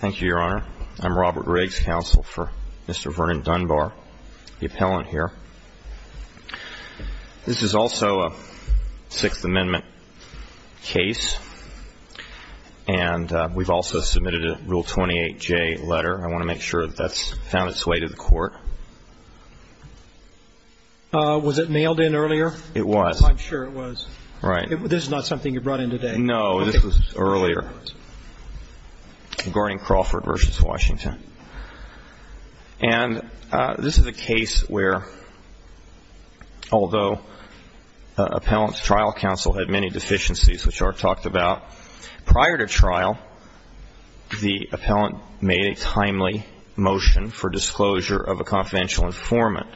Thank you, Your Honor. I'm Robert Riggs, counsel for Mr. Vernon Dunbar, the appellant here. This is also a Sixth Amendment case, and we've also submitted a Rule 28J letter. I want to make sure that that's found its way to the court. Was it mailed in earlier? It was. I'm sure it was. Right. This is not something you brought in today? No, this was earlier, regarding Crawford v. Washington. And this is a case where, although appellant's trial counsel had many deficiencies, which Art talked about, prior to trial the appellant made a timely motion for disclosure of a confidential informant.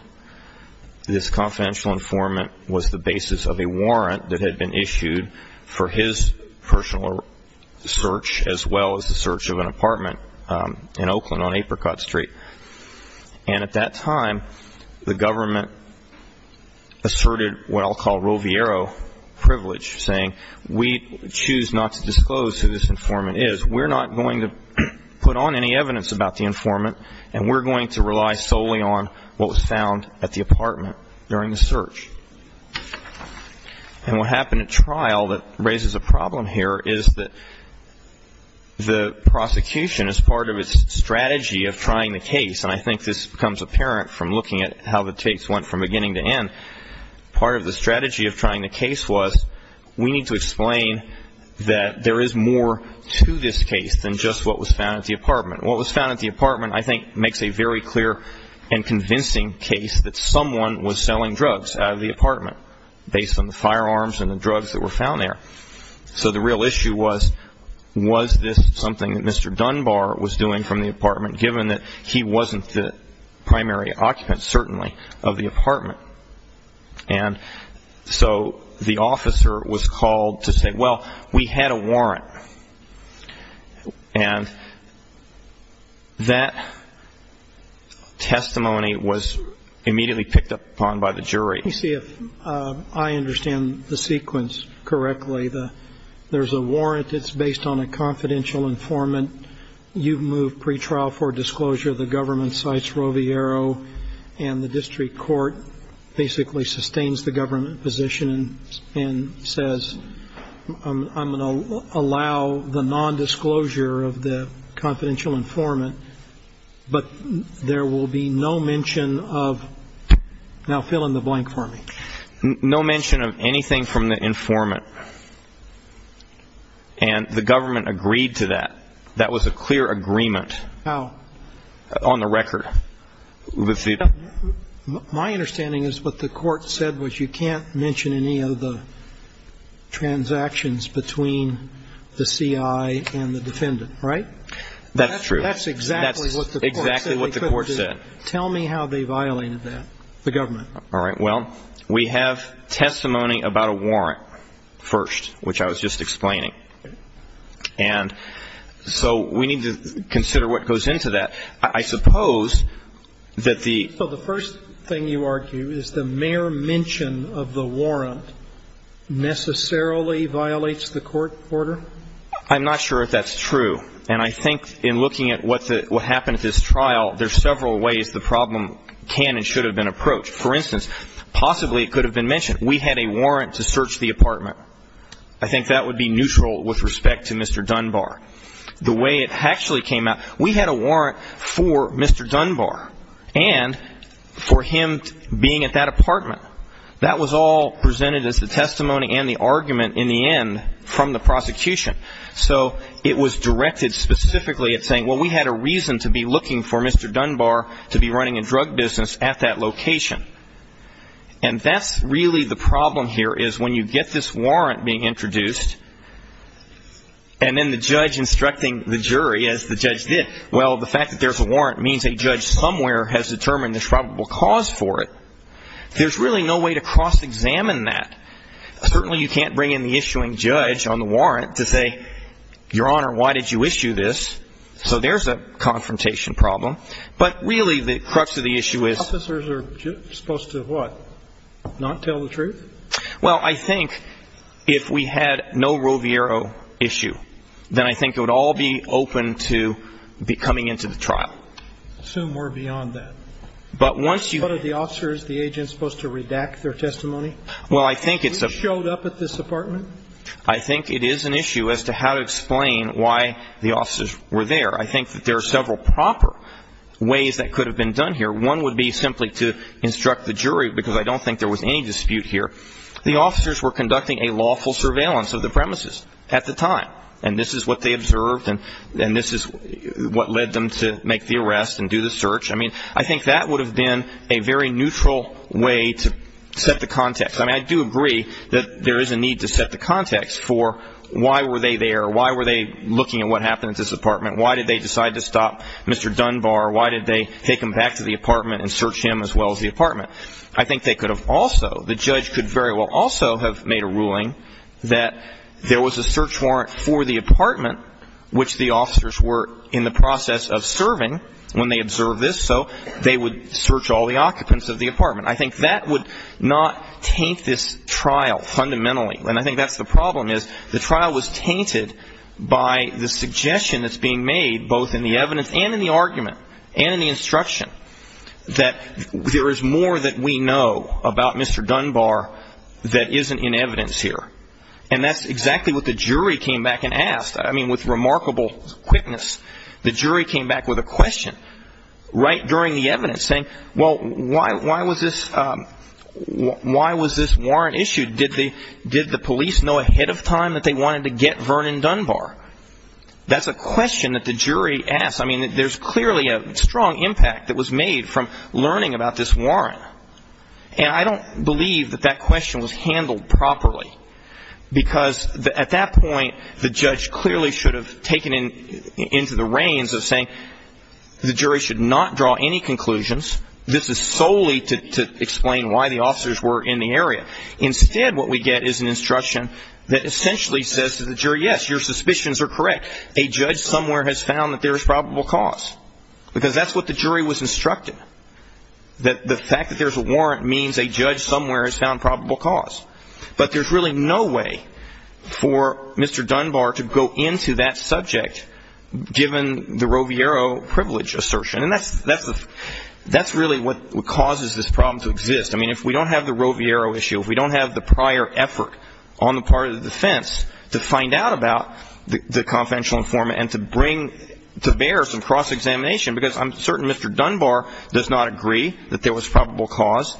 This confidential informant was the basis of a warrant that had been issued for his personal search, as well as the search of an apartment in Oakland on Apricot Street. And at that time, the government asserted what I'll call Roviero privilege, saying we choose not to disclose who this informant is, we're not going to put on any evidence about the informant, and we're going to rely solely on what was found at the apartment during the search. And what happened at trial that raises a problem here is that the prosecution, as part of its strategy of trying the case, and I think this becomes apparent from looking at how the case went from beginning to end, part of the strategy of trying the case was we need to explain that there is more to this case than just what was found at the apartment. What was found at the apartment, I think, makes a very clear and convincing case that someone was selling drugs out of the apartment based on the firearms and the drugs that were found there. So the real issue was, was this something that Mr. Dunbar was doing from the apartment, given that he wasn't the primary occupant, certainly, of the apartment? And so the officer was called to say, well, we had a warrant. And that testimony was immediately picked up on by the jury. Let me see if I understand the sequence correctly. There's a warrant that's based on a confidential informant. You've moved pretrial for disclosure. The government cites Roviero, and the district court basically sustains the government position and says I'm going to allow the nondisclosure of the confidential informant, but there will be no mention of now fill in the blank for me. No mention of anything from the informant. And the government agreed to that. That was a clear agreement. How? On the record. My understanding is what the court said was you can't mention any of the transactions between the C.I. and the defendant, right? That's true. That's exactly what the court said. Tell me how they violated that, the government. All right. Well, we have testimony about a warrant first, which I was just explaining. And so we need to consider what goes into that. I suppose that the ---- Well, the first thing you argue is the mere mention of the warrant necessarily violates the court order? I'm not sure if that's true. And I think in looking at what happened at this trial, there's several ways the problem can and should have been approached. For instance, possibly it could have been mentioned. We had a warrant to search the apartment. I think that would be neutral with respect to Mr. Dunbar. The way it actually came out, we had a warrant for Mr. Dunbar and for him being at that apartment. That was all presented as the testimony and the argument in the end from the prosecution. So it was directed specifically at saying, well, we had a reason to be looking for Mr. Dunbar to be running a drug business at that location. And that's really the problem here is when you get this warrant being introduced and then the judge instructing the jury as the judge did, well, the fact that there's a warrant means a judge somewhere has determined there's probable cause for it. There's really no way to cross-examine that. Certainly you can't bring in the issuing judge on the warrant to say, Your Honor, why did you issue this? So there's a confrontation problem. But really the crux of the issue is ---- Officers are supposed to what? Not tell the truth? Well, I think if we had no Roviero issue, then I think it would all be open to coming into the trial. Assume we're beyond that. But once you ---- What are the officers, the agents supposed to redact their testimony? Well, I think it's a ---- You showed up at this apartment? I think it is an issue as to how to explain why the officers were there. I think that there are several proper ways that could have been done here. One would be simply to instruct the jury, because I don't think there was any dispute here. The officers were conducting a lawful surveillance of the premises at the time. And this is what they observed, and this is what led them to make the arrest and do the search. I mean, I think that would have been a very neutral way to set the context. I mean, I do agree that there is a need to set the context for why were they there, why were they looking at what happened at this apartment, why did they decide to stop Mr. Dunbar, why did they take him back to the apartment and search him as well as the apartment. I think they could have also, the judge could very well also have made a ruling that there was a search warrant for the apartment which the officers were in the process of serving when they observed this, so they would search all the occupants of the apartment. I think that would not taint this trial fundamentally. And I think that's the problem, is the trial was tainted by the suggestion that's being made, both in the evidence and in the argument and in the instruction, that there is more that we know about Mr. Dunbar that isn't in evidence here. And that's exactly what the jury came back and asked. I mean, with remarkable quickness, the jury came back with a question right during the evidence saying, well, why was this warrant issued? Did the police know ahead of time that they wanted to get Vernon Dunbar? That's a question that the jury asked. I mean, there's clearly a strong impact that was made from learning about this warrant. And I don't believe that that question was handled properly, because at that point, the judge clearly should have taken into the reins of saying the jury should not draw any conclusions. This is solely to explain why the officers were in the area. Instead, what we get is an instruction that essentially says to the jury, yes, your suspicions are correct. A judge somewhere has found that there is probable cause, because that's what the jury was instructed, that the fact that there's a warrant means a judge somewhere has found probable cause. But there's really no way for Mr. Dunbar to go into that subject, given the Roviero privilege assertion. And that's really what causes this problem to exist. I mean, if we don't have the Roviero issue, if we don't have the prior effort on the part of the defense to find out about the confidential informant and to bring to bear some cross-examination, because I'm certain Mr. Dunbar does not agree that there was probable cause.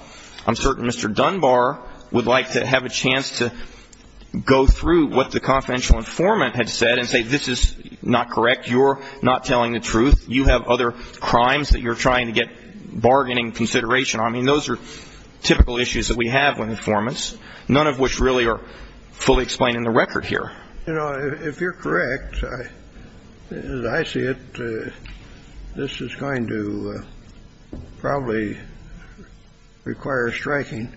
I'm certain Mr. Dunbar would like to have a chance to go through what the confidential informant had said and say this is not correct. You're not telling the truth. You have other crimes that you're trying to get bargaining consideration on. I mean, those are typical issues that we have with informants, none of which really are fully explained in the record here. You know, if you're correct, as I see it, this is going to probably require striking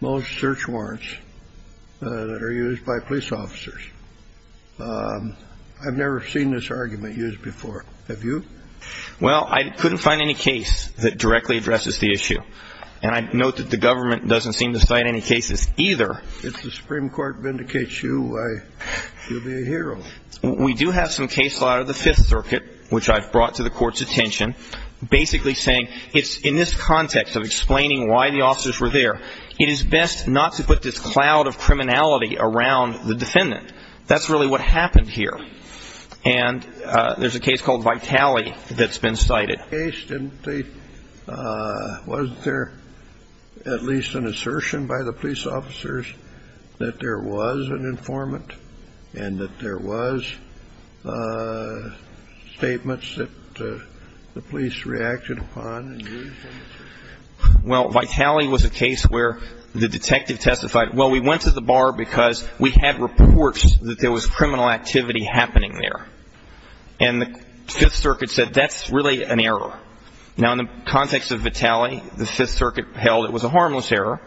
most search warrants that are used by police officers. I've never seen this argument used before. Have you? Well, I couldn't find any case that directly addresses the issue. And I note that the government doesn't seem to cite any cases either. If the Supreme Court vindicates you, you'll be a hero. We do have some cases out of the Fifth Circuit, which I've brought to the Court's attention, basically saying it's in this context of explaining why the officers were there, it is best not to put this cloud of criminality around the defendant. That's really what happened here. And there's a case called Vitale that's been cited. In that case, wasn't there at least an assertion by the police officers that there was an informant and that there was statements that the police reacted upon? Well, Vitale was a case where the detective testified, well, we went to the bar because we had reports that there was criminal activity happening there. And the Fifth Circuit said that's really an error. Now, in the context of Vitale, the Fifth Circuit held it was a harmless error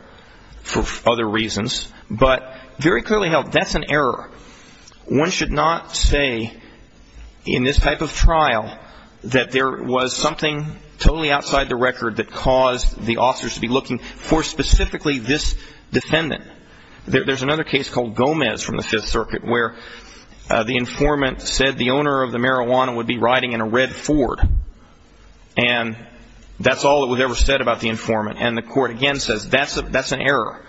for other reasons, but very clearly held that's an error. One should not say in this type of trial that there was something totally outside the record that caused the officers to be looking for specifically this defendant. There's another case called Gomez from the Fifth Circuit where the informant said the owner of the marijuana would be riding in a red Ford. And that's all that was ever said about the informant. And the Court, again, says that's an error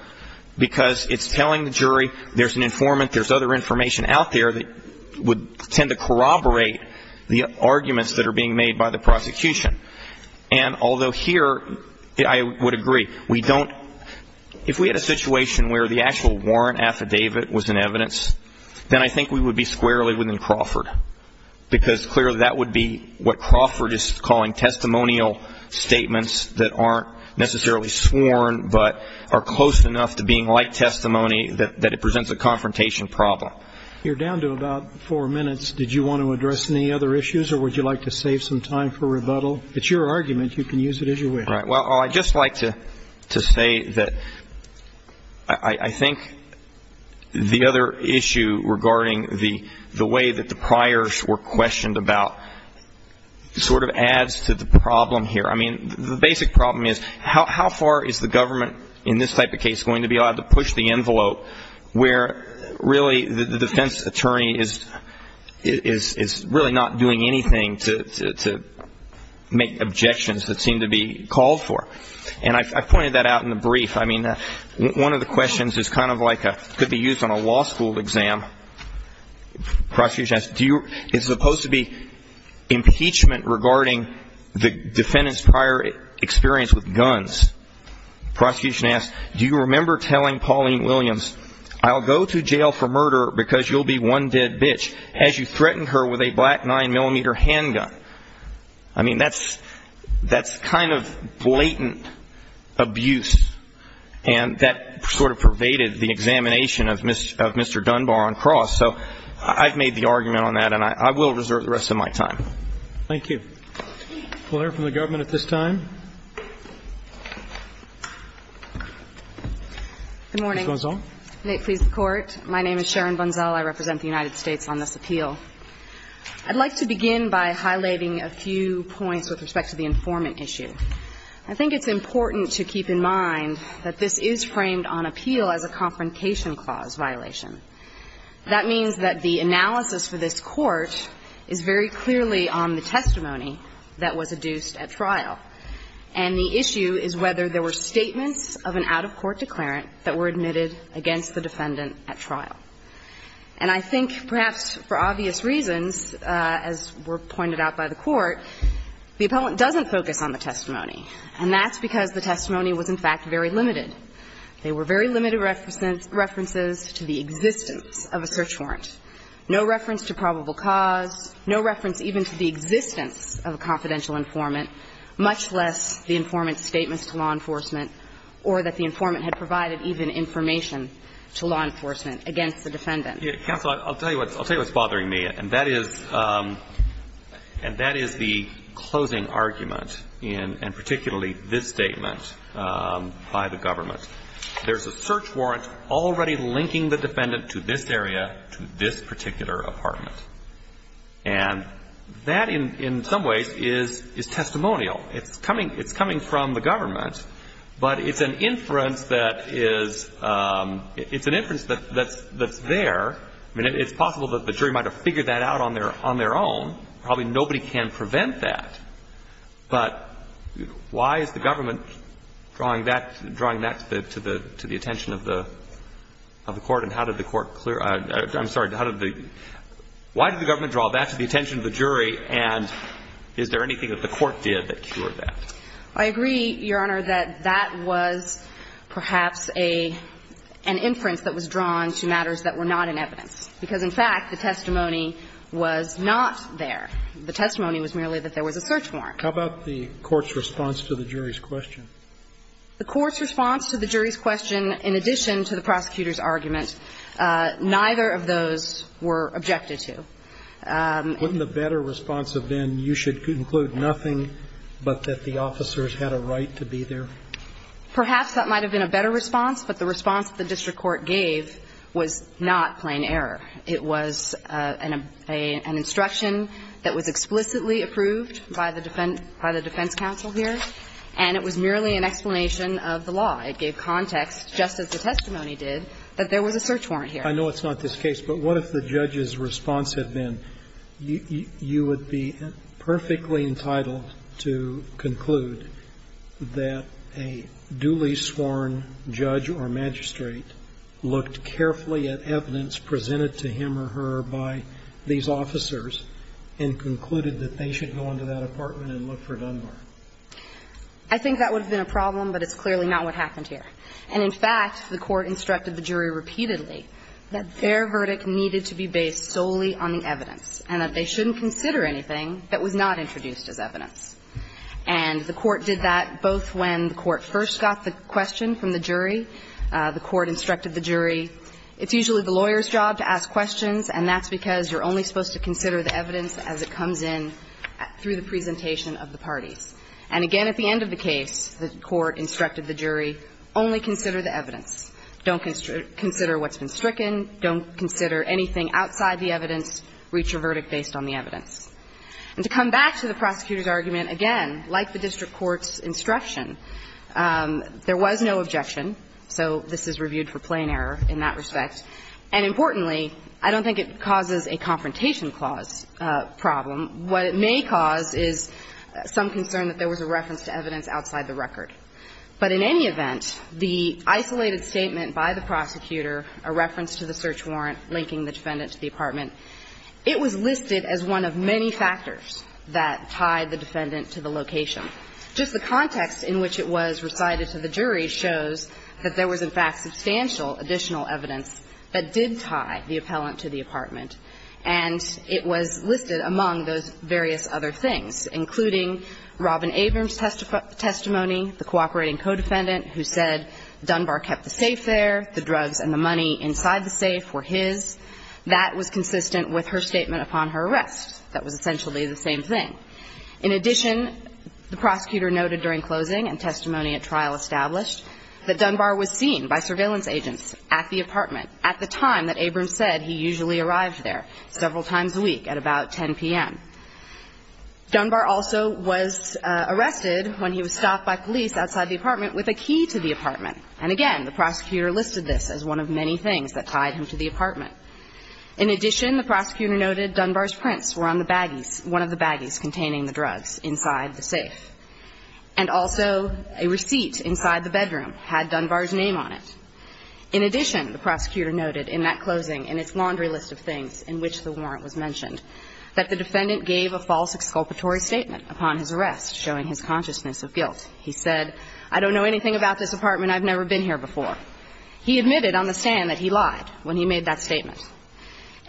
because it's telling the jury there's an informant, there's other information out there that would tend to corroborate the arguments that are being made by the prosecution. And although here I would agree. If we had a situation where the actual warrant affidavit was in evidence, then I think we would be squarely within Crawford because clearly that would be what Crawford is calling testimonial statements that aren't necessarily sworn but are close enough to being like testimony that it presents a confrontation problem. You're down to about four minutes. Did you want to address any other issues or would you like to save some time for rebuttal? It's your argument. You can use it as you wish. Well, I'd just like to say that I think the other issue regarding the way that the priors were questioned about sort of adds to the problem here. I mean, the basic problem is how far is the government in this type of case going to be able to push the envelope where really the defense attorney is really not doing anything to make objections that seem to be called for. And I've pointed that out in the brief. I mean, one of the questions is kind of like it could be used on a law school exam. The prosecution asks, is it supposed to be impeachment regarding the defendant's prior experience with guns? The prosecution asks, do you remember telling Pauline Williams, I'll go to jail for murder because you'll be one dead bitch, as you threatened her with a black 9mm handgun? I mean, that's kind of blatant abuse, and that sort of pervaded the examination of Mr. Dunbar on cross. So I've made the argument on that, and I will reserve the rest of my time. Thank you. We'll hear from the government at this time. Good morning. Ms. Bunzel. May it please the Court. My name is Sharon Bunzel. I represent the United States on this appeal. I'd like to begin by highlighting a few points with respect to the informant issue. I think it's important to keep in mind that this is framed on appeal as a confrontation clause violation. That means that the analysis for this Court is very clearly on the testimony that was adduced at trial. And the issue is whether there were statements of an out-of-court declarant that were admitted against the defendant at trial. And I think perhaps for obvious reasons, as were pointed out by the Court, the appellant doesn't focus on the testimony, and that's because the testimony was, in fact, very limited. There were very limited references to the existence of a search warrant, no reference to probable cause, no reference even to the existence of a confidential informant, much less the informant's statements to law enforcement or that the informant had provided even information to law enforcement against the defendant. Counsel, I'll tell you what's bothering me, and that is the closing argument in particularly this statement by the government. There's a search warrant already linking the defendant to this area, to this particular apartment. And that, in some ways, is testimonial. It's coming from the government, but it's an inference that is — it's an inference that's there. I mean, it's possible that the jury might have figured that out on their own. Probably nobody can prevent that. But why is the government drawing that to the attention of the Court, and how did the Court clear — I'm sorry, how did the — why did the government draw that to the I agree, Your Honor, that that was perhaps an inference that was drawn to matters that were not in evidence, because, in fact, the testimony was not there. The testimony was merely that there was a search warrant. How about the Court's response to the jury's question? The Court's response to the jury's question, in addition to the prosecutor's argument, neither of those were objected to. Wouldn't the better response have been, you should conclude nothing but that the officers had a right to be there? Perhaps that might have been a better response, but the response that the district court gave was not plain error. It was an instruction that was explicitly approved by the defense counsel here, and it was merely an explanation of the law. It gave context, just as the testimony did, that there was a search warrant here. I know it's not this case, but what if the judge's response had been, you would be perfectly entitled to conclude that a duly sworn judge or magistrate looked carefully at evidence presented to him or her by these officers and concluded that they should go into that apartment and look for Dunbar? I think that would have been a problem, but it's clearly not what happened here. And, in fact, the Court instructed the jury repeatedly that their verdict needed to be based solely on the evidence and that they shouldn't consider anything that was not introduced as evidence. And the Court did that both when the Court first got the question from the jury. The Court instructed the jury, it's usually the lawyer's job to ask questions, and that's because you're only supposed to consider the evidence as it comes in through the presentation of the parties. And, again, at the end of the case, the Court instructed the jury, only consider the evidence. Don't consider what's been stricken. Don't consider anything outside the evidence. Reach your verdict based on the evidence. And to come back to the prosecutor's argument, again, like the district court's instruction, there was no objection, so this is reviewed for plain error in that respect. And, importantly, I don't think it causes a confrontation clause problem. What it may cause is some concern that there was a reference to evidence outside the record. But in any event, the isolated statement by the prosecutor, a reference to the search warrant linking the defendant to the apartment, it was listed as one of many factors that tied the defendant to the location. Just the context in which it was recited to the jury shows that there was, in fact, And it was listed among those various other things, including Robin Abrams' testimony, the cooperating co-defendant who said Dunbar kept the safe there, the drugs and the money inside the safe were his. That was consistent with her statement upon her arrest. That was essentially the same thing. In addition, the prosecutor noted during closing and testimony at trial established that Dunbar was seen by surveillance agents at the apartment at the time that Abrams said he usually arrived there several times a week at about 10 p.m. Dunbar also was arrested when he was stopped by police outside the apartment with a key to the apartment. And, again, the prosecutor listed this as one of many things that tied him to the apartment. In addition, the prosecutor noted Dunbar's prints were on the baggies, one of the baggies containing the drugs inside the safe. And also a receipt inside the bedroom had Dunbar's name on it. In addition, the prosecutor noted in that closing in its laundry list of things in which the warrant was mentioned that the defendant gave a false exculpatory statement upon his arrest showing his consciousness of guilt. He said, I don't know anything about this apartment. I've never been here before. He admitted on the stand that he lied when he made that statement.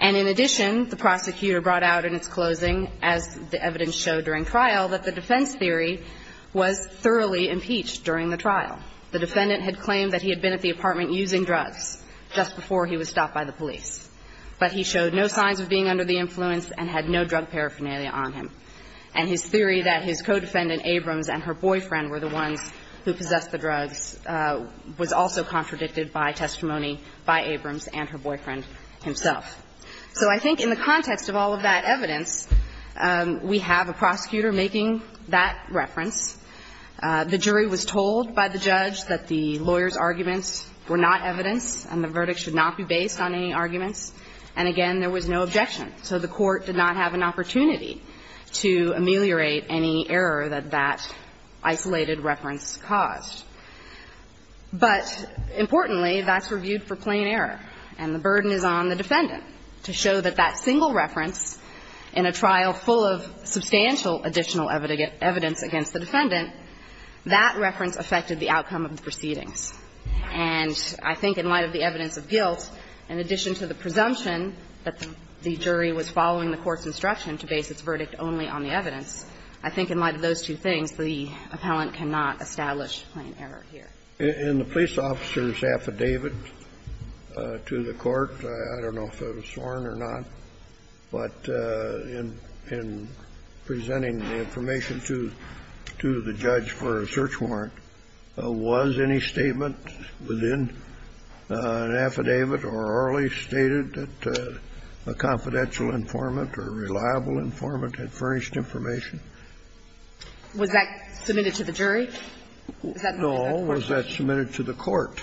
And in addition, the prosecutor brought out in its closing, as the evidence showed during trial, that the defense theory was thoroughly impeached during the trial. The defendant had claimed that he had been at the apartment using drugs just before he was stopped by the police. But he showed no signs of being under the influence and had no drug paraphernalia on him. And his theory that his co-defendant, Abrams, and her boyfriend were the ones who possessed the drugs was also contradicted by testimony by Abrams and her boyfriend himself. So I think in the context of all of that evidence, we have a prosecutor making that reference. The jury was told by the judge that the lawyer's arguments were not evidence and the verdict should not be based on any arguments. And again, there was no objection. So the Court did not have an opportunity to ameliorate any error that that isolated reference caused. But importantly, that's reviewed for plain error. And the burden is on the defendant to show that that single reference in a trial full of substantial additional evidence against the defendant, that reference affected the outcome of the proceedings. And I think in light of the evidence of guilt, in addition to the presumption that the jury was following the Court's instruction to base its verdict only on the evidence, I think in light of those two things, the appellant cannot establish plain error here. In the police officer's affidavit to the Court, I don't know if it was sworn or not, but in presenting the information to the judge for a search warrant, was any statement within an affidavit or orally stated that a confidential informant or a reliable informant had furnished information? Was that submitted to the jury? No. Was that submitted to the Court?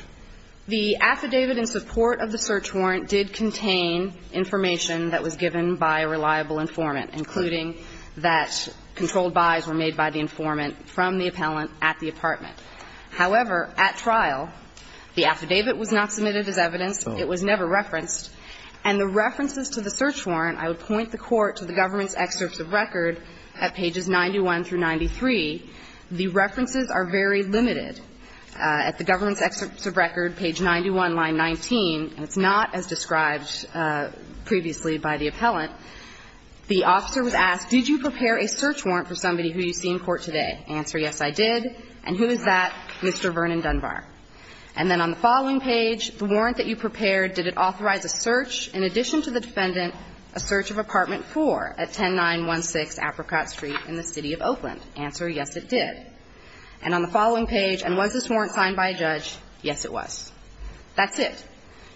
The affidavit in support of the search warrant did contain information that was given by a reliable informant, including that controlled buys were made by the informant from the appellant at the apartment. However, at trial, the affidavit was not submitted as evidence. It was never referenced. And the references to the search warrant, I would point the Court to the government's excerpts of record at pages 91 through 93. The references are very limited. At the government's excerpts of record, page 91, line 19, and it's not as described previously by the appellant, the officer was asked, did you prepare a search warrant for somebody who you see in court today? Answer, yes, I did. And who is that? Mr. Vernon Dunbar. And then on the following page, the warrant that you prepared, did it authorize a search in addition to the defendant, a search of apartment 4 at 10916 Apricot Street in the City of Oakland? Answer, yes, it did. And on the following page, and was this warrant signed by a judge? Yes, it was. That's it.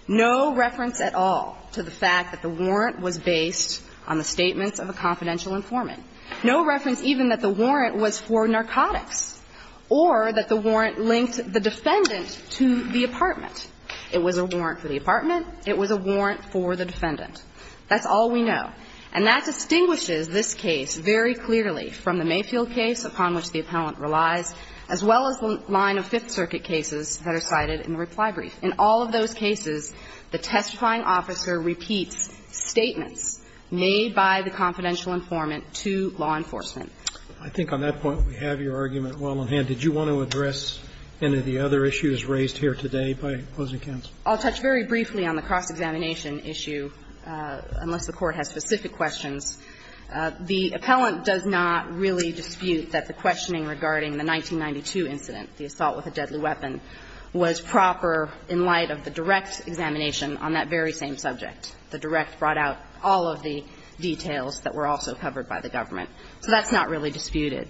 No reference at all to the fact that the warrant was based on the statements of a confidential informant. No reference even that the warrant was for narcotics or that the warrant linked the defendant to the apartment. It was a warrant for the apartment. It was a warrant for the defendant. That's all we know. And that distinguishes this case very clearly from the Mayfield case upon which the appellant relies, as well as the line of Fifth Circuit cases that are cited in the reply brief. In all of those cases, the testifying officer repeats statements made by the confidential informant to law enforcement. I think on that point we have your argument well in hand. Did you want to address any of the other issues raised here today by opposing counsel? I'll touch very briefly on the cross-examination issue, unless the Court has specific questions. The appellant does not really dispute that the questioning regarding the 1992 incident, the assault with a deadly weapon, was proper in light of the direct examination on that very same subject. The direct brought out all of the details that were also covered by the government. So that's not really disputed.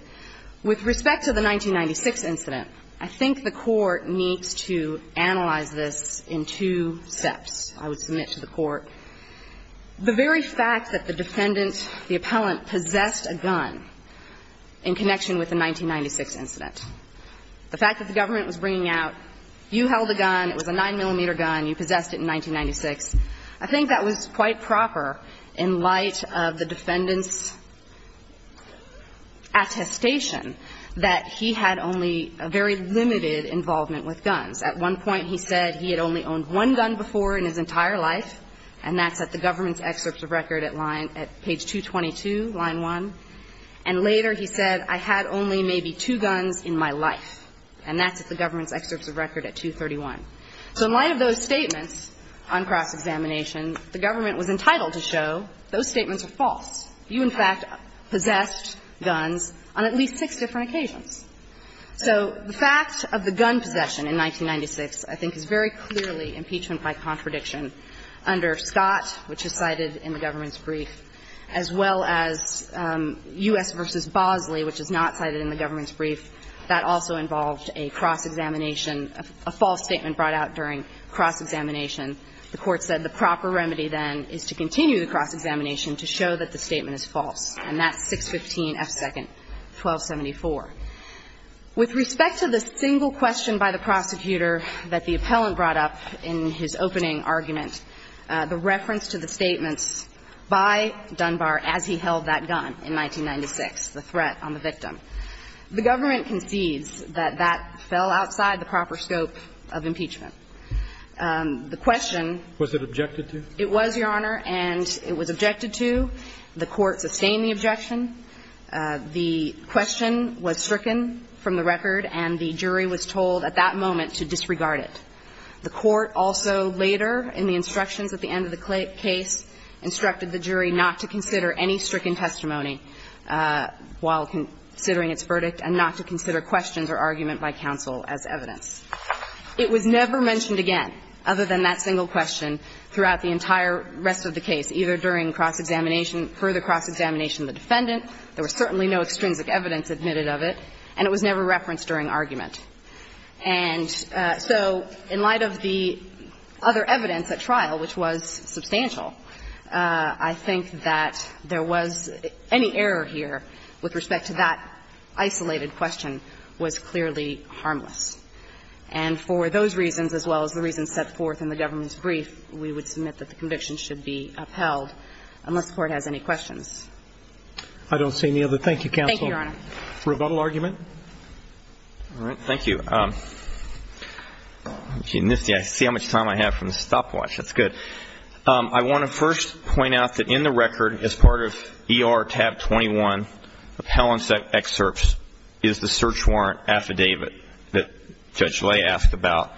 With respect to the 1996 incident, I think the Court needs to analyze this in two steps, I would submit to the Court. The very fact that the defendant, the appellant, possessed a gun in connection with the 1996 incident, the fact that the government was bringing out, you held a gun, it was a 9-millimeter gun, you possessed it in 1996, I think that was quite proper in light of the defendant's attestation that he had only a very limited involvement with guns. At one point he said he had only owned one gun before in his entire life, and that's at the government's excerpts of record at line at page 222, line 1. And later he said, I had only maybe two guns in my life, and that's at the government's excerpts of record at 231. So in light of those statements on cross-examination, the government was entirely entitled to show those statements are false. You, in fact, possessed guns on at least six different occasions. So the fact of the gun possession in 1996, I think, is very clearly impeachment by contradiction under Scott, which is cited in the government's brief, as well as U.S. v. Bosley, which is not cited in the government's brief. That also involved a cross-examination, a false statement brought out during cross-examination. The Court said the proper remedy, then, is to continue the cross-examination to show that the statement is false, and that's 615 F. 2nd, 1274. With respect to the single question by the prosecutor that the appellant brought up in his opening argument, the reference to the statements by Dunbar as he held that gun in 1996, the threat on the victim, the government concedes that that fell outside the proper scope of impeachment. The question was it objected to? It was, Your Honor, and it was objected to. The Court sustained the objection. The question was stricken from the record, and the jury was told at that moment to disregard it. The Court also later, in the instructions at the end of the case, instructed the jury not to consider any stricken testimony while considering its verdict, and not to consider questions or argument by counsel as evidence. It was never mentioned again, other than that single question, throughout the entire rest of the case, either during cross-examination or further cross-examination of the defendant. There was certainly no extrinsic evidence admitted of it, and it was never referenced during argument. And so in light of the other evidence at trial, which was substantial, I think that any error here with respect to that isolated question was clearly harmless. And for those reasons, as well as the reasons set forth in the government's brief, we would submit that the conviction should be upheld, unless the Court has any questions. I don't see any other. Thank you, counsel. Thank you, Your Honor. Rebuttal argument? All right. Thank you. I see how much time I have from the stopwatch. That's good. I want to first point out that in the record, as part of ER tab 21 of Helen's excerpts, is the search warrant affidavit that Judge Lay asked about.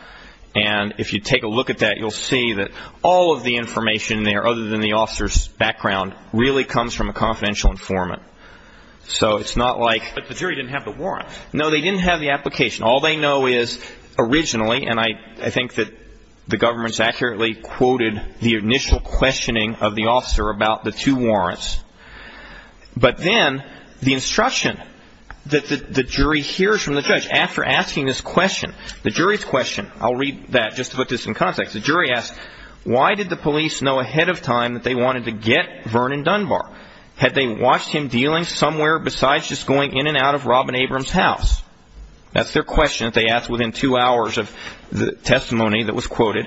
And if you take a look at that, you'll see that all of the information there, other than the officer's background, really comes from a confidential informant. So it's not like the jury didn't have the warrant. No, they didn't have the application. All they know is originally, and I think that the government's accurately quoted the initial questioning of the officer about the two warrants. But then the instruction that the jury hears from the judge after asking this question, the jury's question, I'll read that just to put this in context. The jury asks, why did the police know ahead of time that they wanted to get Vernon Dunbar? Had they watched him dealing somewhere besides just going in and out of Robin Abrams' house? That's their question that they asked within two hours of the testimony that was quoted.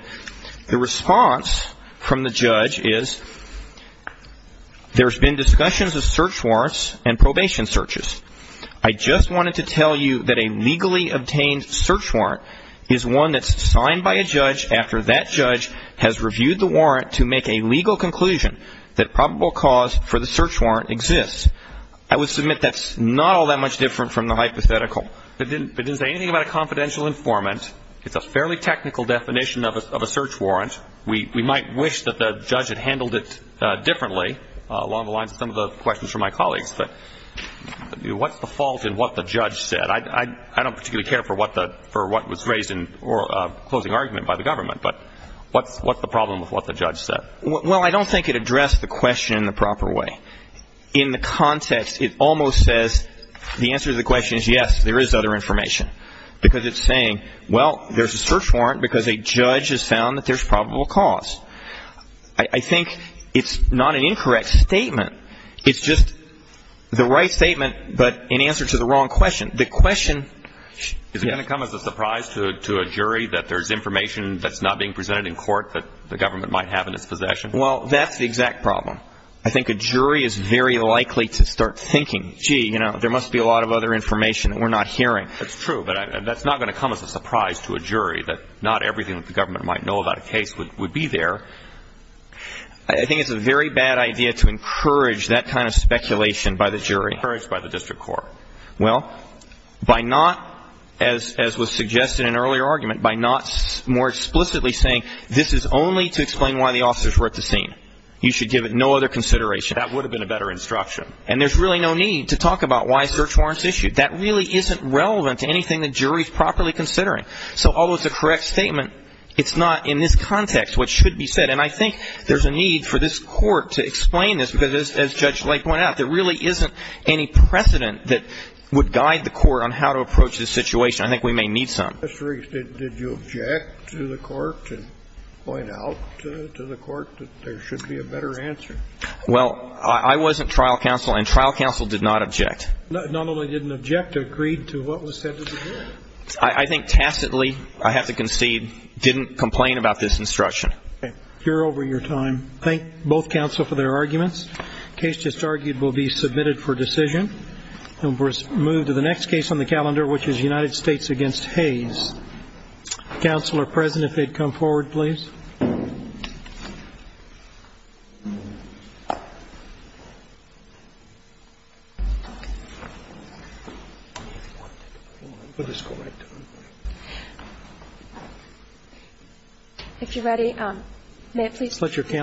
The response from the judge is, there's been discussions of search warrants and probation searches. I just wanted to tell you that a legally obtained search warrant is one that's signed by a judge after that judge has reviewed the warrant to make a legal conclusion that probable cause for the search warrant exists. I would submit that's not all that much different from the hypothetical. It didn't say anything about a confidential informant. It's a fairly technical definition of a search warrant. We might wish that the judge had handled it differently along the lines of some of the questions from my colleagues. But what's the fault in what the judge said? I don't particularly care for what was raised in closing argument by the government. But what's the problem with what the judge said? Well, I don't think it addressed the question in the proper way. In the context, it almost says the answer to the question is, yes, there is other information. Because it's saying, well, there's a search warrant because a judge has found that there's probable cause. I think it's not an incorrect statement. It's just the right statement but in answer to the wrong question. The question ‑‑ Is it going to come as a surprise to a jury that there's information that's not being presented in court that the government might have in its possession? Well, that's the exact problem. I think a jury is very likely to start thinking, gee, you know, there must be a lot of other information that we're not hearing. That's true. But that's not going to come as a surprise to a jury that not everything that the government might know about a case would be there. I think it's a very bad idea to encourage that kind of speculation by the jury. Encourage by the district court. Well, by not, as was suggested in earlier argument, by not more explicitly saying this is only to explain why the officers were at the scene. You should give it no other consideration. That would have been a better instruction. And there's really no need to talk about why search warrants issued. That really isn't relevant to anything the jury is properly considering. So although it's a correct statement, it's not in this context what should be said. And I think there's a need for this court to explain this because, as Judge Lake pointed out, there really isn't any precedent that would guide the court on how to approach this situation. I think we may need some. Did you object to the court and point out to the court that there should be a better answer? Well, I wasn't trial counsel, and trial counsel did not object. Not only didn't object, agreed to what was said to the jury. I think tacitly, I have to concede, didn't complain about this instruction. Okay. We're over your time. Thank both counsel for their arguments. The case just argued will be submitted for decision. And we'll move to the next case on the calendar, which is United States against Hayes. Counsel are present if they'd come forward, please. If you're ready, may I please? Let your counsel speak.